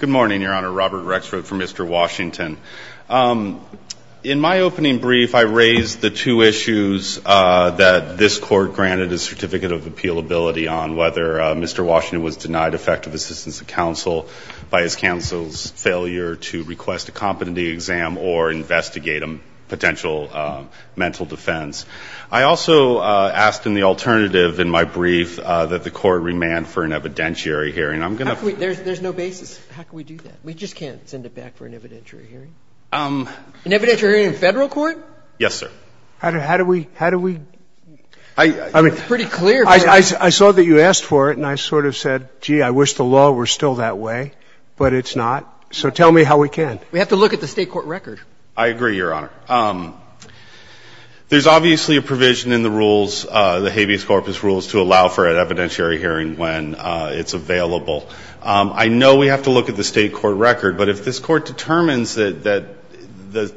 Good morning, Your Honor. Robert Rexford for Mr. Washington. In my opening brief, I raised the two issues that this Court granted a Certificate of Appealability on, whether Mr. Washington was denied effective assistance of counsel by his counsel's failure to request a competency exam or investigate a potential mental defense. I also asked in the alternative in my brief that the Court remand for an evidentiary hearing. I'm going to ---- There's no basis. How can we do that? We just can't send it back for an evidentiary hearing. An evidentiary hearing in Federal court? Yes, sir. How do we ---- It's pretty clear. I saw that you asked for it, and I sort of said, gee, I wish the law were still that way, but it's not, so tell me how we can. We have to look at the State court record. I agree, Your Honor. There's obviously a provision in the rules, the habeas corpus rules, to allow for an evidentiary hearing when it's available. I know we have to look at the State court record, but if this Court determines that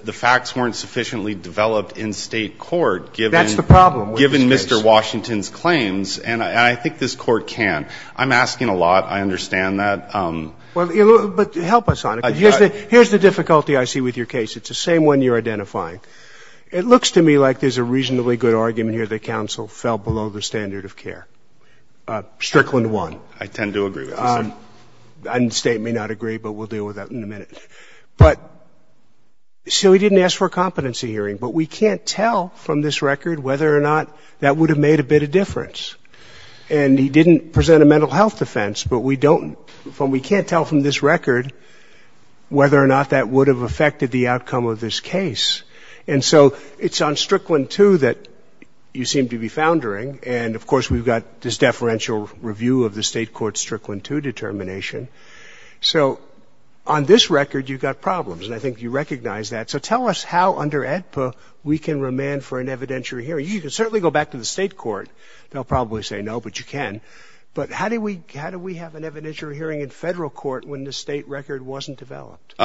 the facts weren't sufficiently developed in State court given Mr. Washington's claims, and I think this Court can't, I'm asking a lot, I understand that. Well, but help us on it. Here's the difficulty I see with your case. It's the same one you're identifying. It looks to me like there's a reasonably good argument here that counsel fell below the standard of care. Strickland won. I tend to agree with this. And the State may not agree, but we'll deal with that in a minute. But so he didn't ask for a competency hearing, but we can't tell from this record whether or not that would have made a bit of difference, and he didn't present a mental health defense, but we don't, we can't tell from this record whether or not that would have affected the outcome of this case, and so it's on Strickland 2 that you seem to be foundering, and of course we've got this deferential review of the State Court's Strickland 2 determination. So on this record, you've got problems, and I think you recognize that. So tell us how under AEDPA we can remand for an evidentiary hearing. You can certainly go back to the State Court. They'll probably say no, but you can. But how do we have an evidentiary hearing in federal court when the State record wasn't developed?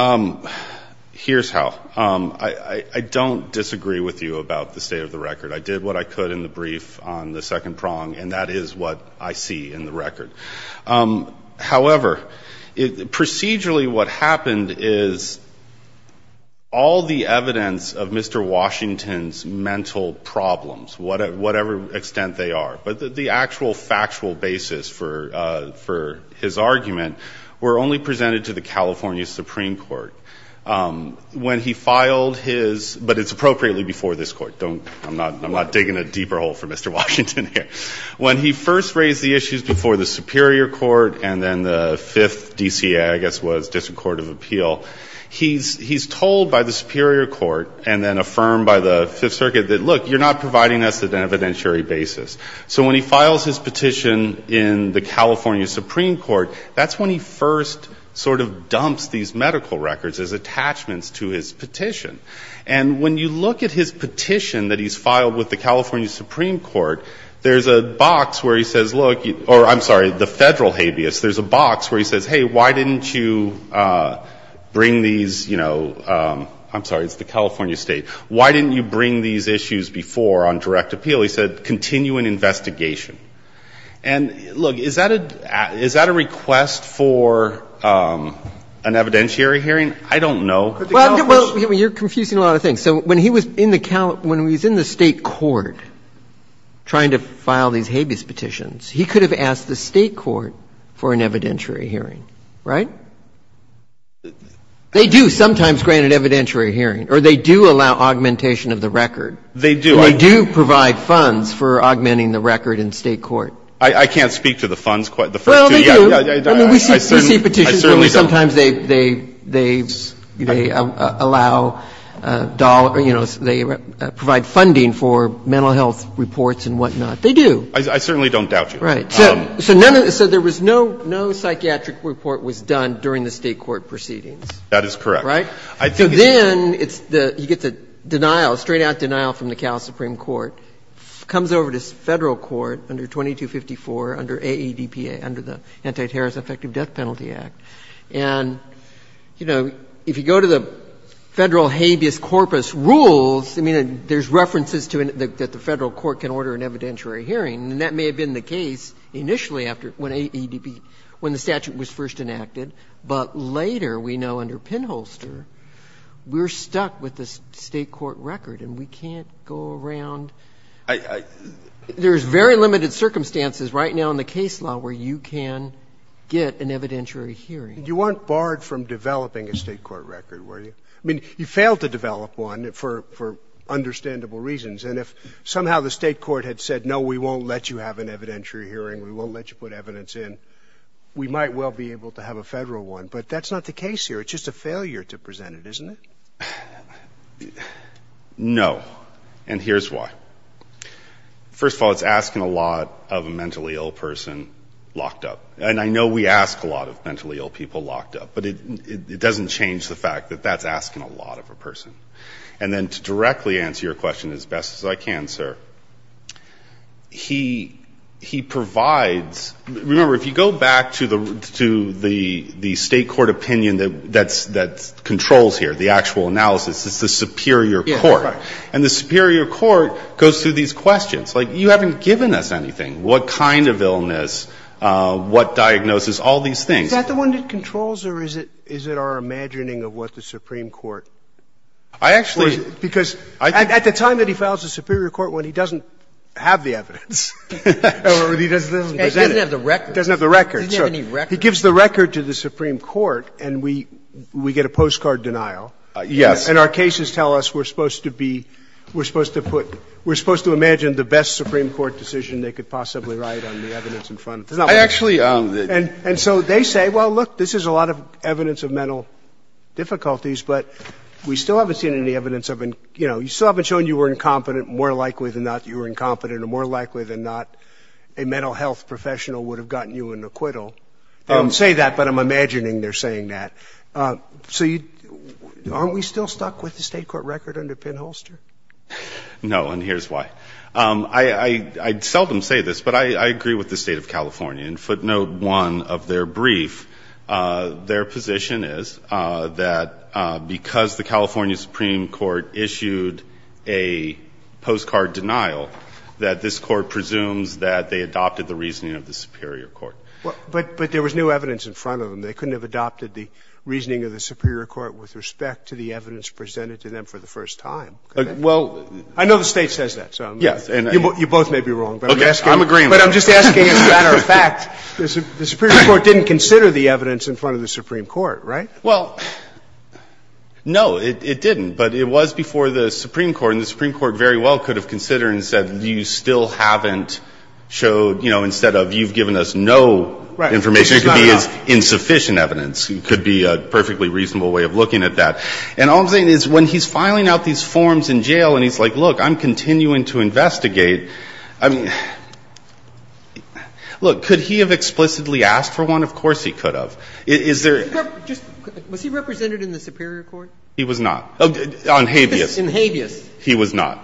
Here's how. I don't disagree with you about the state of the record. I did what I could in the brief on the second prong, and that is what I see in the record. However, procedurally what happened is all the evidence of Mr. Washington's mental problems, whatever extent they are, but the actual factual basis for his argument were only presented to the California Supreme Court. When he filed his, but it's appropriately before this court. I'm not digging a deeper hole for Mr. Washington here. When he first raised the issues before the Superior Court and then the 5th DCA, I guess it was, District Court of Appeal, he's told by the Superior Court and then affirmed by the 5th Circuit that, look, you're not providing us with an evidentiary basis. So when he files his petition in the California Supreme Court, that's when he first sort of dumps these medical records as attachments to his petition. And when you look at his petition that he's filed with the California Supreme Court, there's a box where he says, look, or I'm sorry, the federal habeas, there's a box where he says, hey, why didn't you bring these, you know, I'm sorry, it's the California state, why didn't you bring these issues before on direct appeal? He said, continue an investigation. And look, is that a request for an evidentiary hearing? I don't know. Well, you're confusing a lot of things. So when he was in the state court trying to file these habeas petitions, he could have asked the state court for an evidentiary hearing, right? They do sometimes grant an evidentiary hearing, or they do allow augmentation of the record. They do. They do provide funds for augmenting the record in state court. I can't speak to the funds quite. Well, they do. I mean, we see petitions where sometimes they allow dollars, you know, they provide funding for mental health reports and whatnot. They do. I certainly don't doubt you. Right. So there was no psychiatric report was done during the state court proceedings. That is correct. Right? So then you get the denial, straight-out denial from the Cal Supreme Court, comes over to Federal court under 2254 under AADPA, under the Anti-Terrorist Effective Death Penalty Act. And, you know, if you go to the Federal habeas corpus rules, I mean, there's references to that the Federal court can order an evidentiary hearing. And that may have been the case initially after when AADP, when the statute was first enacted. But later, we know under Pinholster, we're stuck with the state court record, and we can't go around. There's very limited circumstances right now in the case law where you can get an evidentiary hearing. You weren't barred from developing a state court record, were you? I mean, you failed to develop one for understandable reasons. And if somehow the state court had said, no, we won't let you have an evidentiary hearing, we won't let you put evidence in, we might well be able to have a Federal one. But that's not the case here. It's just a failure to present it, isn't it? No. And here's why. First of all, it's asking a lot of a mentally ill person locked up. And I know we ask a lot of mentally ill people locked up. But it doesn't change the fact that that's asking a lot of a person. And then to directly answer your question as best as I can, sir, he provides – remember, if you go back to the state court opinion that controls here, the actual analysis, it's the superior court. And the superior court goes through these questions. Like, you haven't given us anything, what kind of illness, what diagnosis, all these things. Is that the one that controls or is it our imagining of what the supreme court – or is it? I actually – Because at the time that he files the superior court when he doesn't have the evidence or he doesn't present it. He doesn't have the record. He doesn't have the record. He doesn't have any record. He gives the record to the supreme court and we get a postcard denial. Yes. And our cases tell us we're supposed to be – we're supposed to put – we're supposed to imagine the best supreme court decision they could possibly write on the evidence in front of them. I actually – And so they say, well, look, this is a lot of evidence of mental difficulties. But we still haven't seen any evidence of – you still haven't shown you were incompetent. More likely than not, you were incompetent. Or more likely than not, a mental health professional would have gotten you an acquittal. They don't say that, but I'm imagining they're saying that. So you – aren't we still stuck with the State court record under Penn-Holster? No. And here's why. I'd seldom say this, but I agree with the State of California. And footnote one of their brief, their position is that because the California supreme court issued a postcard denial, that this court presumes that they adopted the reasoning of the superior court. But there was no evidence in front of them. They couldn't have adopted the reasoning of the superior court with respect to the evidence presented to them for the first time. Well, I know the State says that. Yes. You both may be wrong. Okay. I'm agreeing. But I'm just asking as a matter of fact, the superior court didn't consider the evidence in front of the supreme court, right? Well, no, it didn't. But it was before the supreme court. And the supreme court very well could have considered and said you still haven't showed, you know, instead of you've given us no information. Right. And the superior court, as I said, has the right to give you the information evidence. It could be a perfectly reasonable way of looking at that. And all I'm saying is when he's filing out these forms in jail and he's like, look, I'm continuing to investigate, I mean, look, could he have explicitly asked for one? Of course he could have. Is there? Was he represented in the superior court? He was not. On habeas. In habeas. He was not.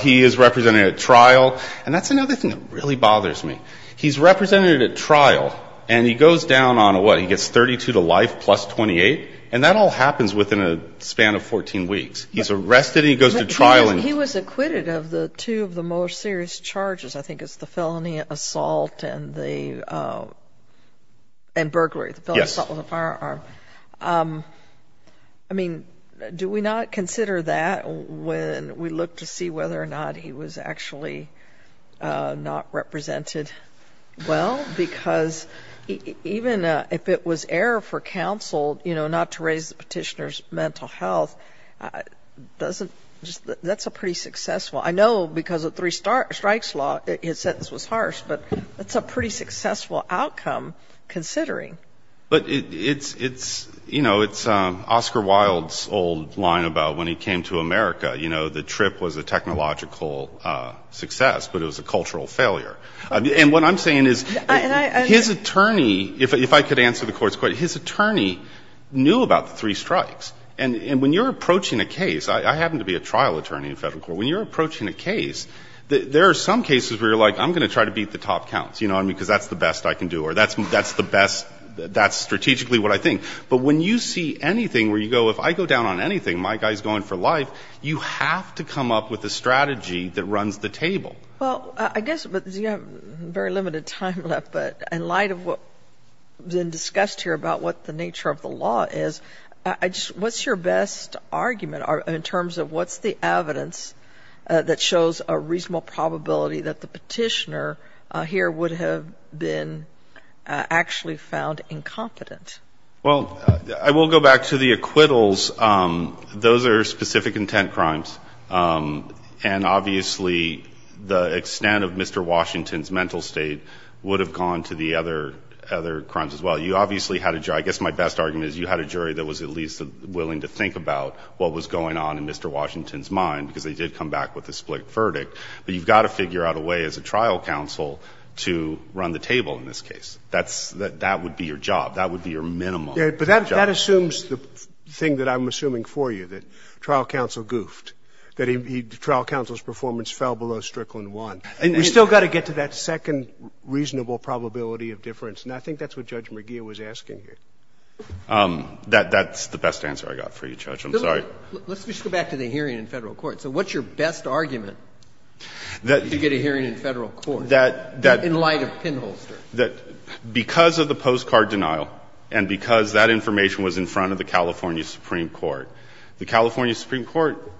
He is represented at trial. And that's another thing that really bothers me. He's represented at trial and he goes down on what? He gets 32 to life plus 28. And that all happens within a span of 14 weeks. He's arrested. He goes to trial. He was acquitted of the two of the most serious charges. I think it's the felony assault and the and burglary. Yes. With a firearm. I mean, do we not consider that when we look to see whether or not he was actually not represented? Well, because even if it was error for counsel, you know, not to raise the petitioner's mental health doesn't just that's a pretty successful I know because of three start strikes law. It said this was harsh, but it's a pretty successful outcome considering. But it's it's you know, it's Oscar Wilde's old line about when he came to America. You know, the trip was a technological success, but it was a cultural failure. And what I'm saying is his attorney. If I could answer the court's court, his attorney knew about the three strikes. And when you're approaching a case, I happen to be a trial attorney in federal court. When you're approaching a case, there are some cases where you're like, I'm going to try to beat the top counts, you know, because that's the best I can do. Or that's that's the best. That's strategically what I think. But when you see anything where you go, if I go down on anything, my guy's going for life. You have to come up with a strategy that runs the table. Well, I guess you have very limited time left. But in light of what's been discussed here about what the nature of the law is, I just what's your best argument in terms of what's the evidence that shows a reasonable probability that the petitioner here would have been actually found incompetent? Well, I will go back to the acquittals. Those are specific intent crimes. And obviously, the extent of Mr. Washington's mental state would have gone to the other crimes as well. You obviously had a jury. I guess my best argument is you had a jury that was at least willing to think about what was going on in Mr. Washington's mind because they did come back with a split verdict. But you've got to figure out a way as a trial counsel to run the table in this case. That would be your job. That would be your minimum job. But that assumes the thing that I'm assuming for you, that trial counsel goofed, that trial counsel's performance fell below Strickland 1. And we've still got to get to that second reasonable probability of difference. And I think that's what Judge McGeough was asking here. That's the best answer I got for you, Judge. I'm sorry. Let's just go back to the hearing in federal court. So what's your best argument to get a hearing in federal court in light of pinholster? Because of the postcard denial and because that information was in front of the California Supreme Court, the California Supreme Court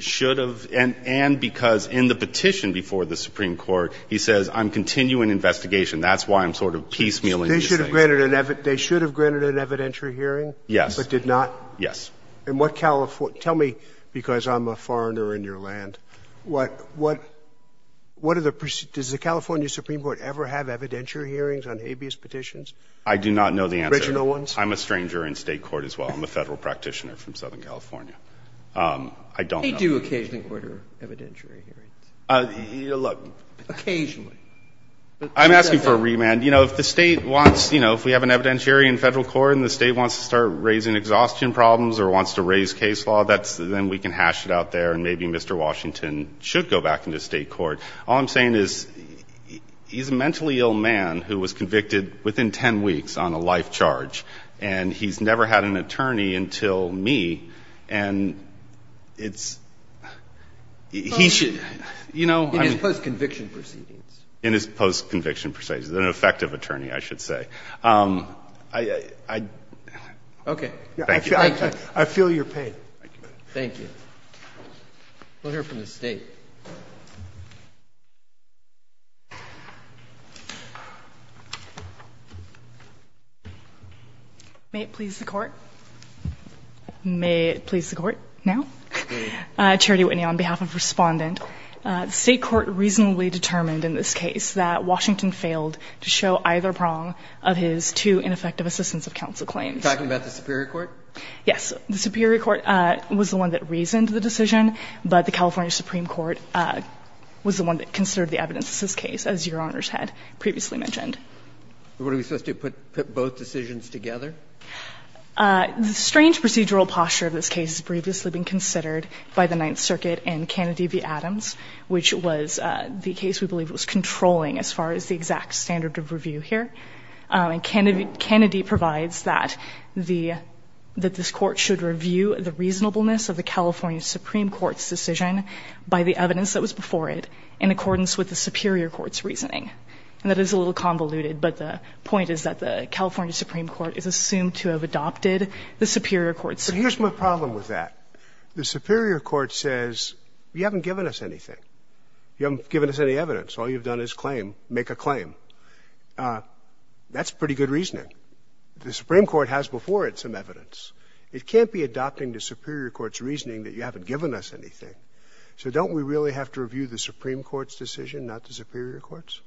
should have, and because in the petition before the Supreme Court, he says, I'm continuing investigation. That's why I'm sort of piecemealing. They should have granted an evidentiary hearing? Yes. But did not? Yes. Tell me, because I'm a foreigner in your land, does the California Supreme Court ever have evidentiary hearings? On habeas petitions? I do not know the answer. Original ones? I'm a stranger in State court as well. I'm a Federal practitioner from Southern California. I don't know. They do occasionally court evidentiary hearings. Look. Occasionally. I'm asking for a remand. You know, if the State wants, you know, if we have an evidentiary in federal court and the State wants to start raising exhaustion problems or wants to raise case law, then we can hash it out there and maybe Mr. Washington should go back into State court. All I'm saying is he's a mentally ill man who was convicted within 10 weeks on a life charge and he's never had an attorney until me and it's, he should, you know. In his post-conviction proceedings? In his post-conviction proceedings. An effective attorney, I should say. Okay. Thank you. I feel your pain. Thank you. We'll hear from the State. May it please the Court? May it please the Court now? Charity Whitney on behalf of Respondent. The State court reasonably determined in this case that Washington failed to show either prong of his two ineffective assistance of counsel claims. Are you talking about the Superior Court? Yes. The Superior Court was the one that reasoned the decision, but the California Supreme Court was the one that considered the evidence in this case, as your Honors had previously mentioned. Were we supposed to put both decisions together? The strange procedural posture of this case has previously been considered by the Ninth Circuit and Kennedy v. Adams, which was the case we believe was controlling as far as the exact standard of review here. And Kennedy provides that the, that this court should review the reasonableness of the evidence that was before it in accordance with the Superior Court's reasoning. And that is a little convoluted, but the point is that the California Supreme Court is assumed to have adopted the Superior Court's. But here's my problem with that. The Superior Court says, you haven't given us anything. You haven't given us any evidence. All you've done is claim, make a claim. That's pretty good reasoning. The Supreme Court has before it some evidence. It can't be adopting the Superior Court's reasoning that you haven't given us anything. So don't we really have to review the Supreme Court's decision, not the Superior Court's?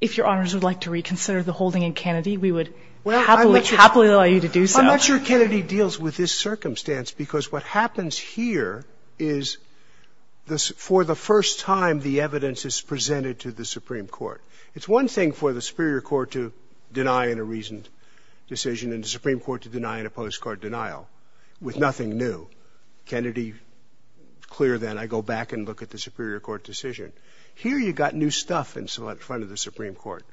If your Honors would like to reconsider the holding in Kennedy, we would happily allow you to do so. I'm not sure Kennedy deals with this circumstance because what happens here is for the first time the evidence is presented to the Supreme Court. It's one thing for the Superior Court to deny in a reasoned decision and the Supreme Court to deny in a postcard denial with nothing new. Kennedy, clear then, I go back and look at the Superior Court decision. Here you've got new stuff in front of the Supreme Court.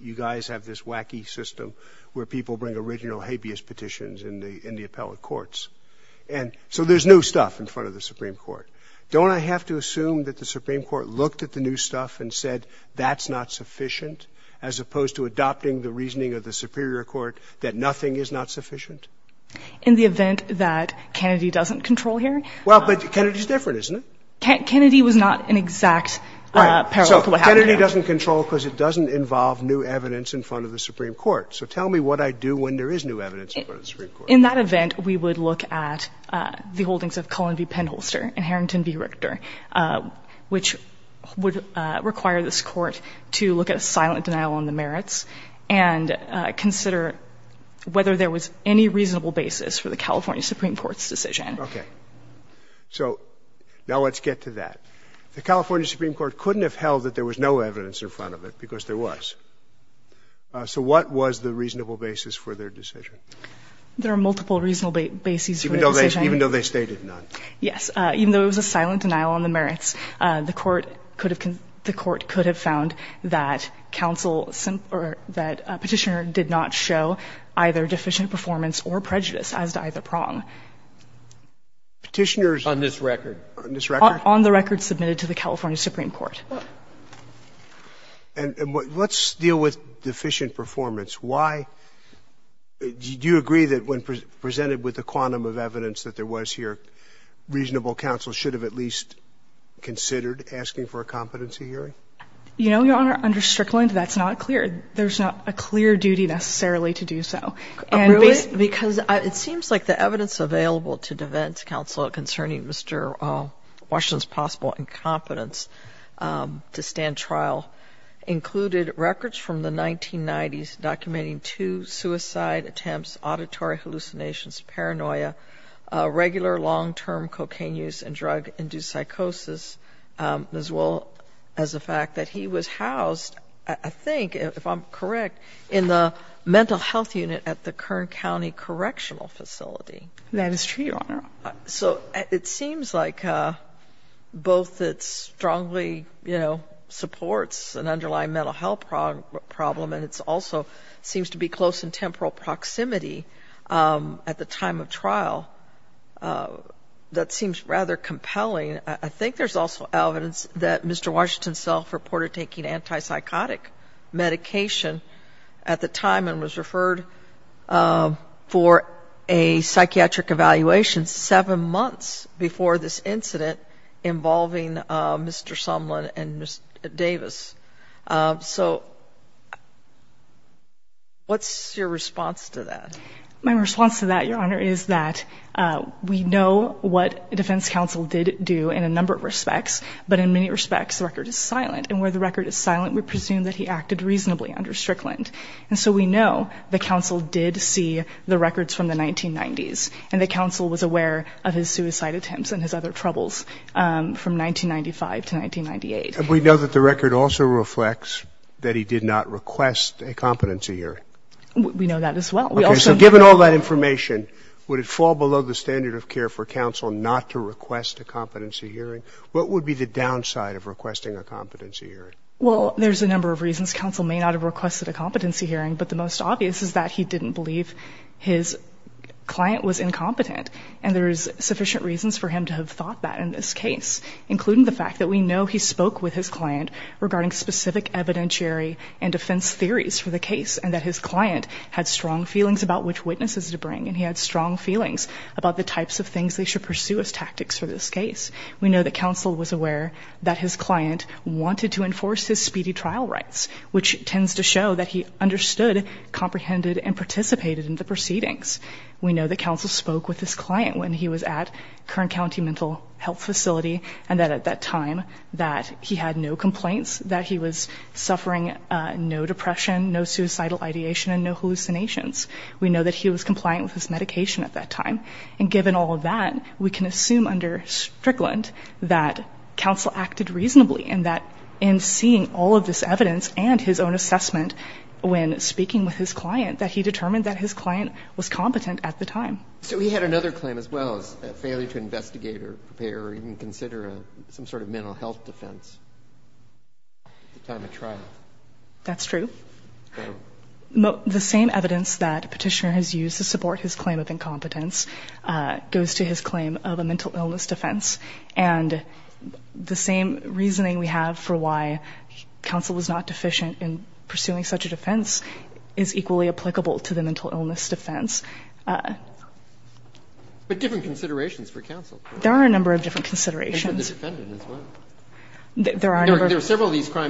You guys have this wacky system where people bring original habeas petitions in the appellate courts. So there's new stuff in front of the Supreme Court. Don't I have to assume that the Supreme Court looked at the new stuff and said, that's not sufficient, as opposed to adopting the reasoning of the Superior Court that nothing is not sufficient? In the event that Kennedy doesn't control here. Well, but Kennedy is different, isn't it? Kennedy was not an exact parallel to what happened here. Kennedy doesn't control because it doesn't involve new evidence in front of the Supreme Court. So tell me what I do when there is new evidence in front of the Supreme Court. In that event, we would look at the holdings of Cullen v. Penholster and Harrington v. Richter, which would require this Court to look at a silent denial on the merits and consider whether there was any reasonable basis for the California Supreme Court's decision. Okay. So now let's get to that. The California Supreme Court couldn't have held that there was no evidence in front of it, because there was. So what was the reasonable basis for their decision? There are multiple reasonable bases for the decision. Even though they stated none. Yes. Even though it was a silent denial on the merits, the Court could have found that counsel or that Petitioner did not show either deficient performance or prejudice as to either prong. Petitioner's. On this record. On this record? On the record submitted to the California Supreme Court. And let's deal with deficient performance. Why? Do you agree that when presented with the quantum of evidence that there was here, reasonable counsel should have at least considered asking for a competency hearing? You know, Your Honor, under Strickland, that's not clear. There's not a clear duty necessarily to do so. Really? Because it seems like the evidence available to defense counsel concerning Mr. Washington's possible incompetence to stand trial included records from the 1990s documenting two suicide attempts, auditory hallucinations, paranoia, regular long-term cocaine use and drug-induced psychosis, as well as the fact that he was housed, I think, if I'm correct, in the mental health unit at the Kern County Correctional Facility. That is true, Your Honor. So it seems like both it strongly, you know, supports an underlying mental health problem, and it also seems to be close in temporal proximity at the time of trial. That seems rather compelling. I think there's also evidence that Mr. Washington self-reported taking antipsychotic medication at the time and was referred for a psychiatric evaluation seven months before this incident involving Mr. Sumlin and Ms. Davis. So what's your response to that? My response to that, Your Honor, is that we know what defense counsel did do in a number of respects, but in many respects the record is silent. And where the record is silent, we presume that he acted reasonably under Strickland. And so we know the counsel did see the records from the 1990s, and the counsel was aware of his suicide attempts and his other troubles from 1995 to 1998. And we know that the record also reflects that he did not request a competency hearing. We know that as well. Okay, so given all that information, would it fall below the standard of care for counsel not to request a competency hearing? What would be the downside of requesting a competency hearing? Well, there's a number of reasons. Counsel may not have requested a competency hearing, but the most obvious is that he didn't believe his client was incompetent. And there's sufficient reasons for him to have thought that in this case, including the fact that we know he spoke with his client regarding specific evidentiary and defense theories for the case, and that his client had strong feelings about which witnesses to bring, and he had strong feelings about the types of things they should pursue as tactics for this case. We know that counsel was aware that his client wanted to enforce his speedy trial rights, which tends to show that he understood, comprehended, and participated in the proceedings. We know that counsel spoke with his client when he was at Kern County Mental Health Facility, and that at that time, that he had no complaints, that he was suffering no depression, no suicidal ideation, and no substance abuse. We know that he was compliant with his medication at that time. And given all of that, we can assume under Strickland that counsel acted reasonably, and that in seeing all of this evidence and his own assessment when speaking with his client, that he determined that his client was competent at the time. So he had another claim as well, a failure to investigate or prepare or even consider some sort of mental health defense at the time of trial. That's true. The same evidence that Petitioner has used to support his claim of incompetence goes to his claim of a mental illness defense. And the same reasoning we have for why counsel was not deficient in pursuing such a defense is equally applicable to the mental illness defense. But different considerations for counsel. There are a number of different considerations. And for the defendant as well. There are a number of different considerations. And a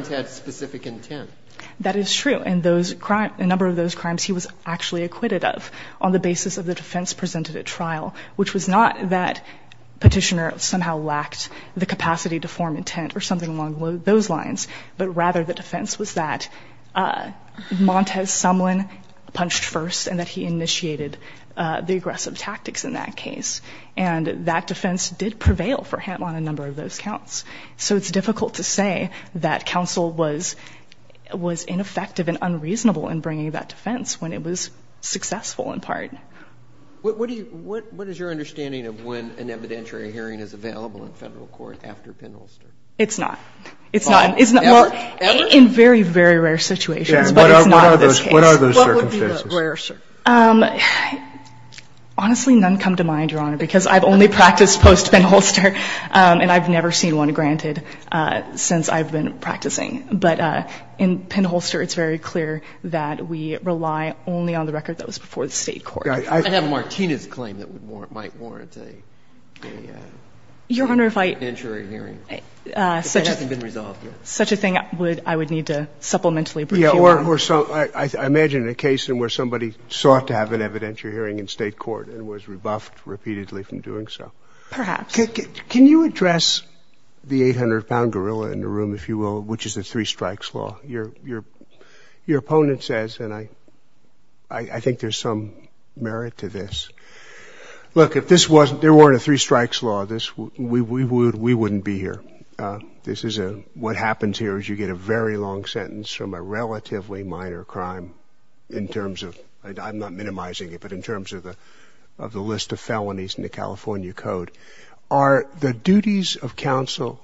number of those crimes he was actually acquitted of on the basis of the defense presented at trial. Which was not that Petitioner somehow lacked the capacity to form intent or something along those lines. But rather the defense was that Montez Sumlin punched first and that he initiated the aggressive tactics in that case. And that defense did prevail for him on a number of those counts. So it's difficult to say that counsel was ineffective and unreasonable in bringing that defense when it was successful in part. What is your understanding of when an evidentiary hearing is available in federal court after Penholster? It's not. It's not. In very, very rare situations. What are those circumstances? Honestly, none come to mind, Your Honor. And I've never seen one before. I've never seen one granted since I've been practicing. But in Penholster, it's very clear that we rely only on the record that was before the state court. I have Martina's claim that might warrant a evidentiary hearing. Your Honor, if I. If it hasn't been resolved yet. Such a thing I would need to supplementally bring you on. I imagine a case where somebody sought to have an evidentiary hearing in state court and was rebuffed repeatedly from doing so. Perhaps. Can you address the 800-pound gorilla in the room, if you will, which is the three strikes law? Your opponent says, and I think there's some merit to this. Look, if there weren't a three strikes law, we wouldn't be here. What happens here is you get a very long sentence from a relatively minor crime in terms of. I'm not minimizing it, but in terms of the list of felonies in the case, are the duties of counsel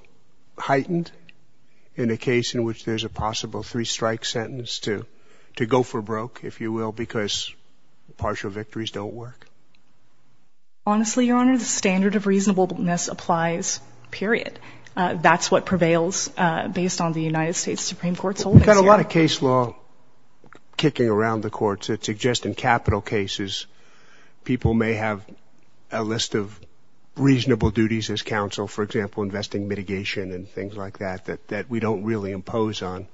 heightened in a case in which there's a possible three strike sentence to to go for broke, if you will, because partial victories don't work. Honestly, your Honor, the standard of reasonableness applies period. That's what prevails based on the United States Supreme Court. We've got a lot of case law kicking around the courts that suggest in capital cases, people may have a list of reasonable duties as counsel, for example, investing mitigation and things like that, that we don't really impose on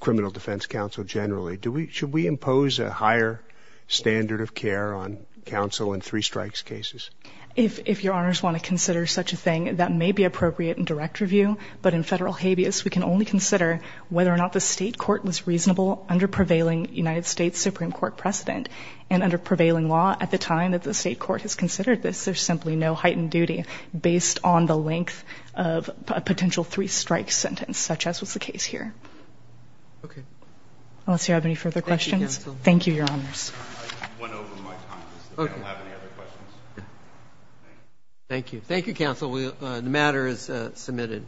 criminal defense counsel generally. Should we impose a higher standard of care on counsel in three strikes cases? If your Honors want to consider such a thing, that may be appropriate in direct review. But in federal habeas, we can only consider whether or not the state court was reasonable under prevailing United States Supreme Court precedent and under prevailing law. At the time that the state court has considered this, there's simply no heightened duty based on the length of a potential three strike sentence, such as was the case here. Okay. Unless you have any further questions. Thank you, Your Honors. Okay. Thank you. Thank you, counsel. The matter is submitted.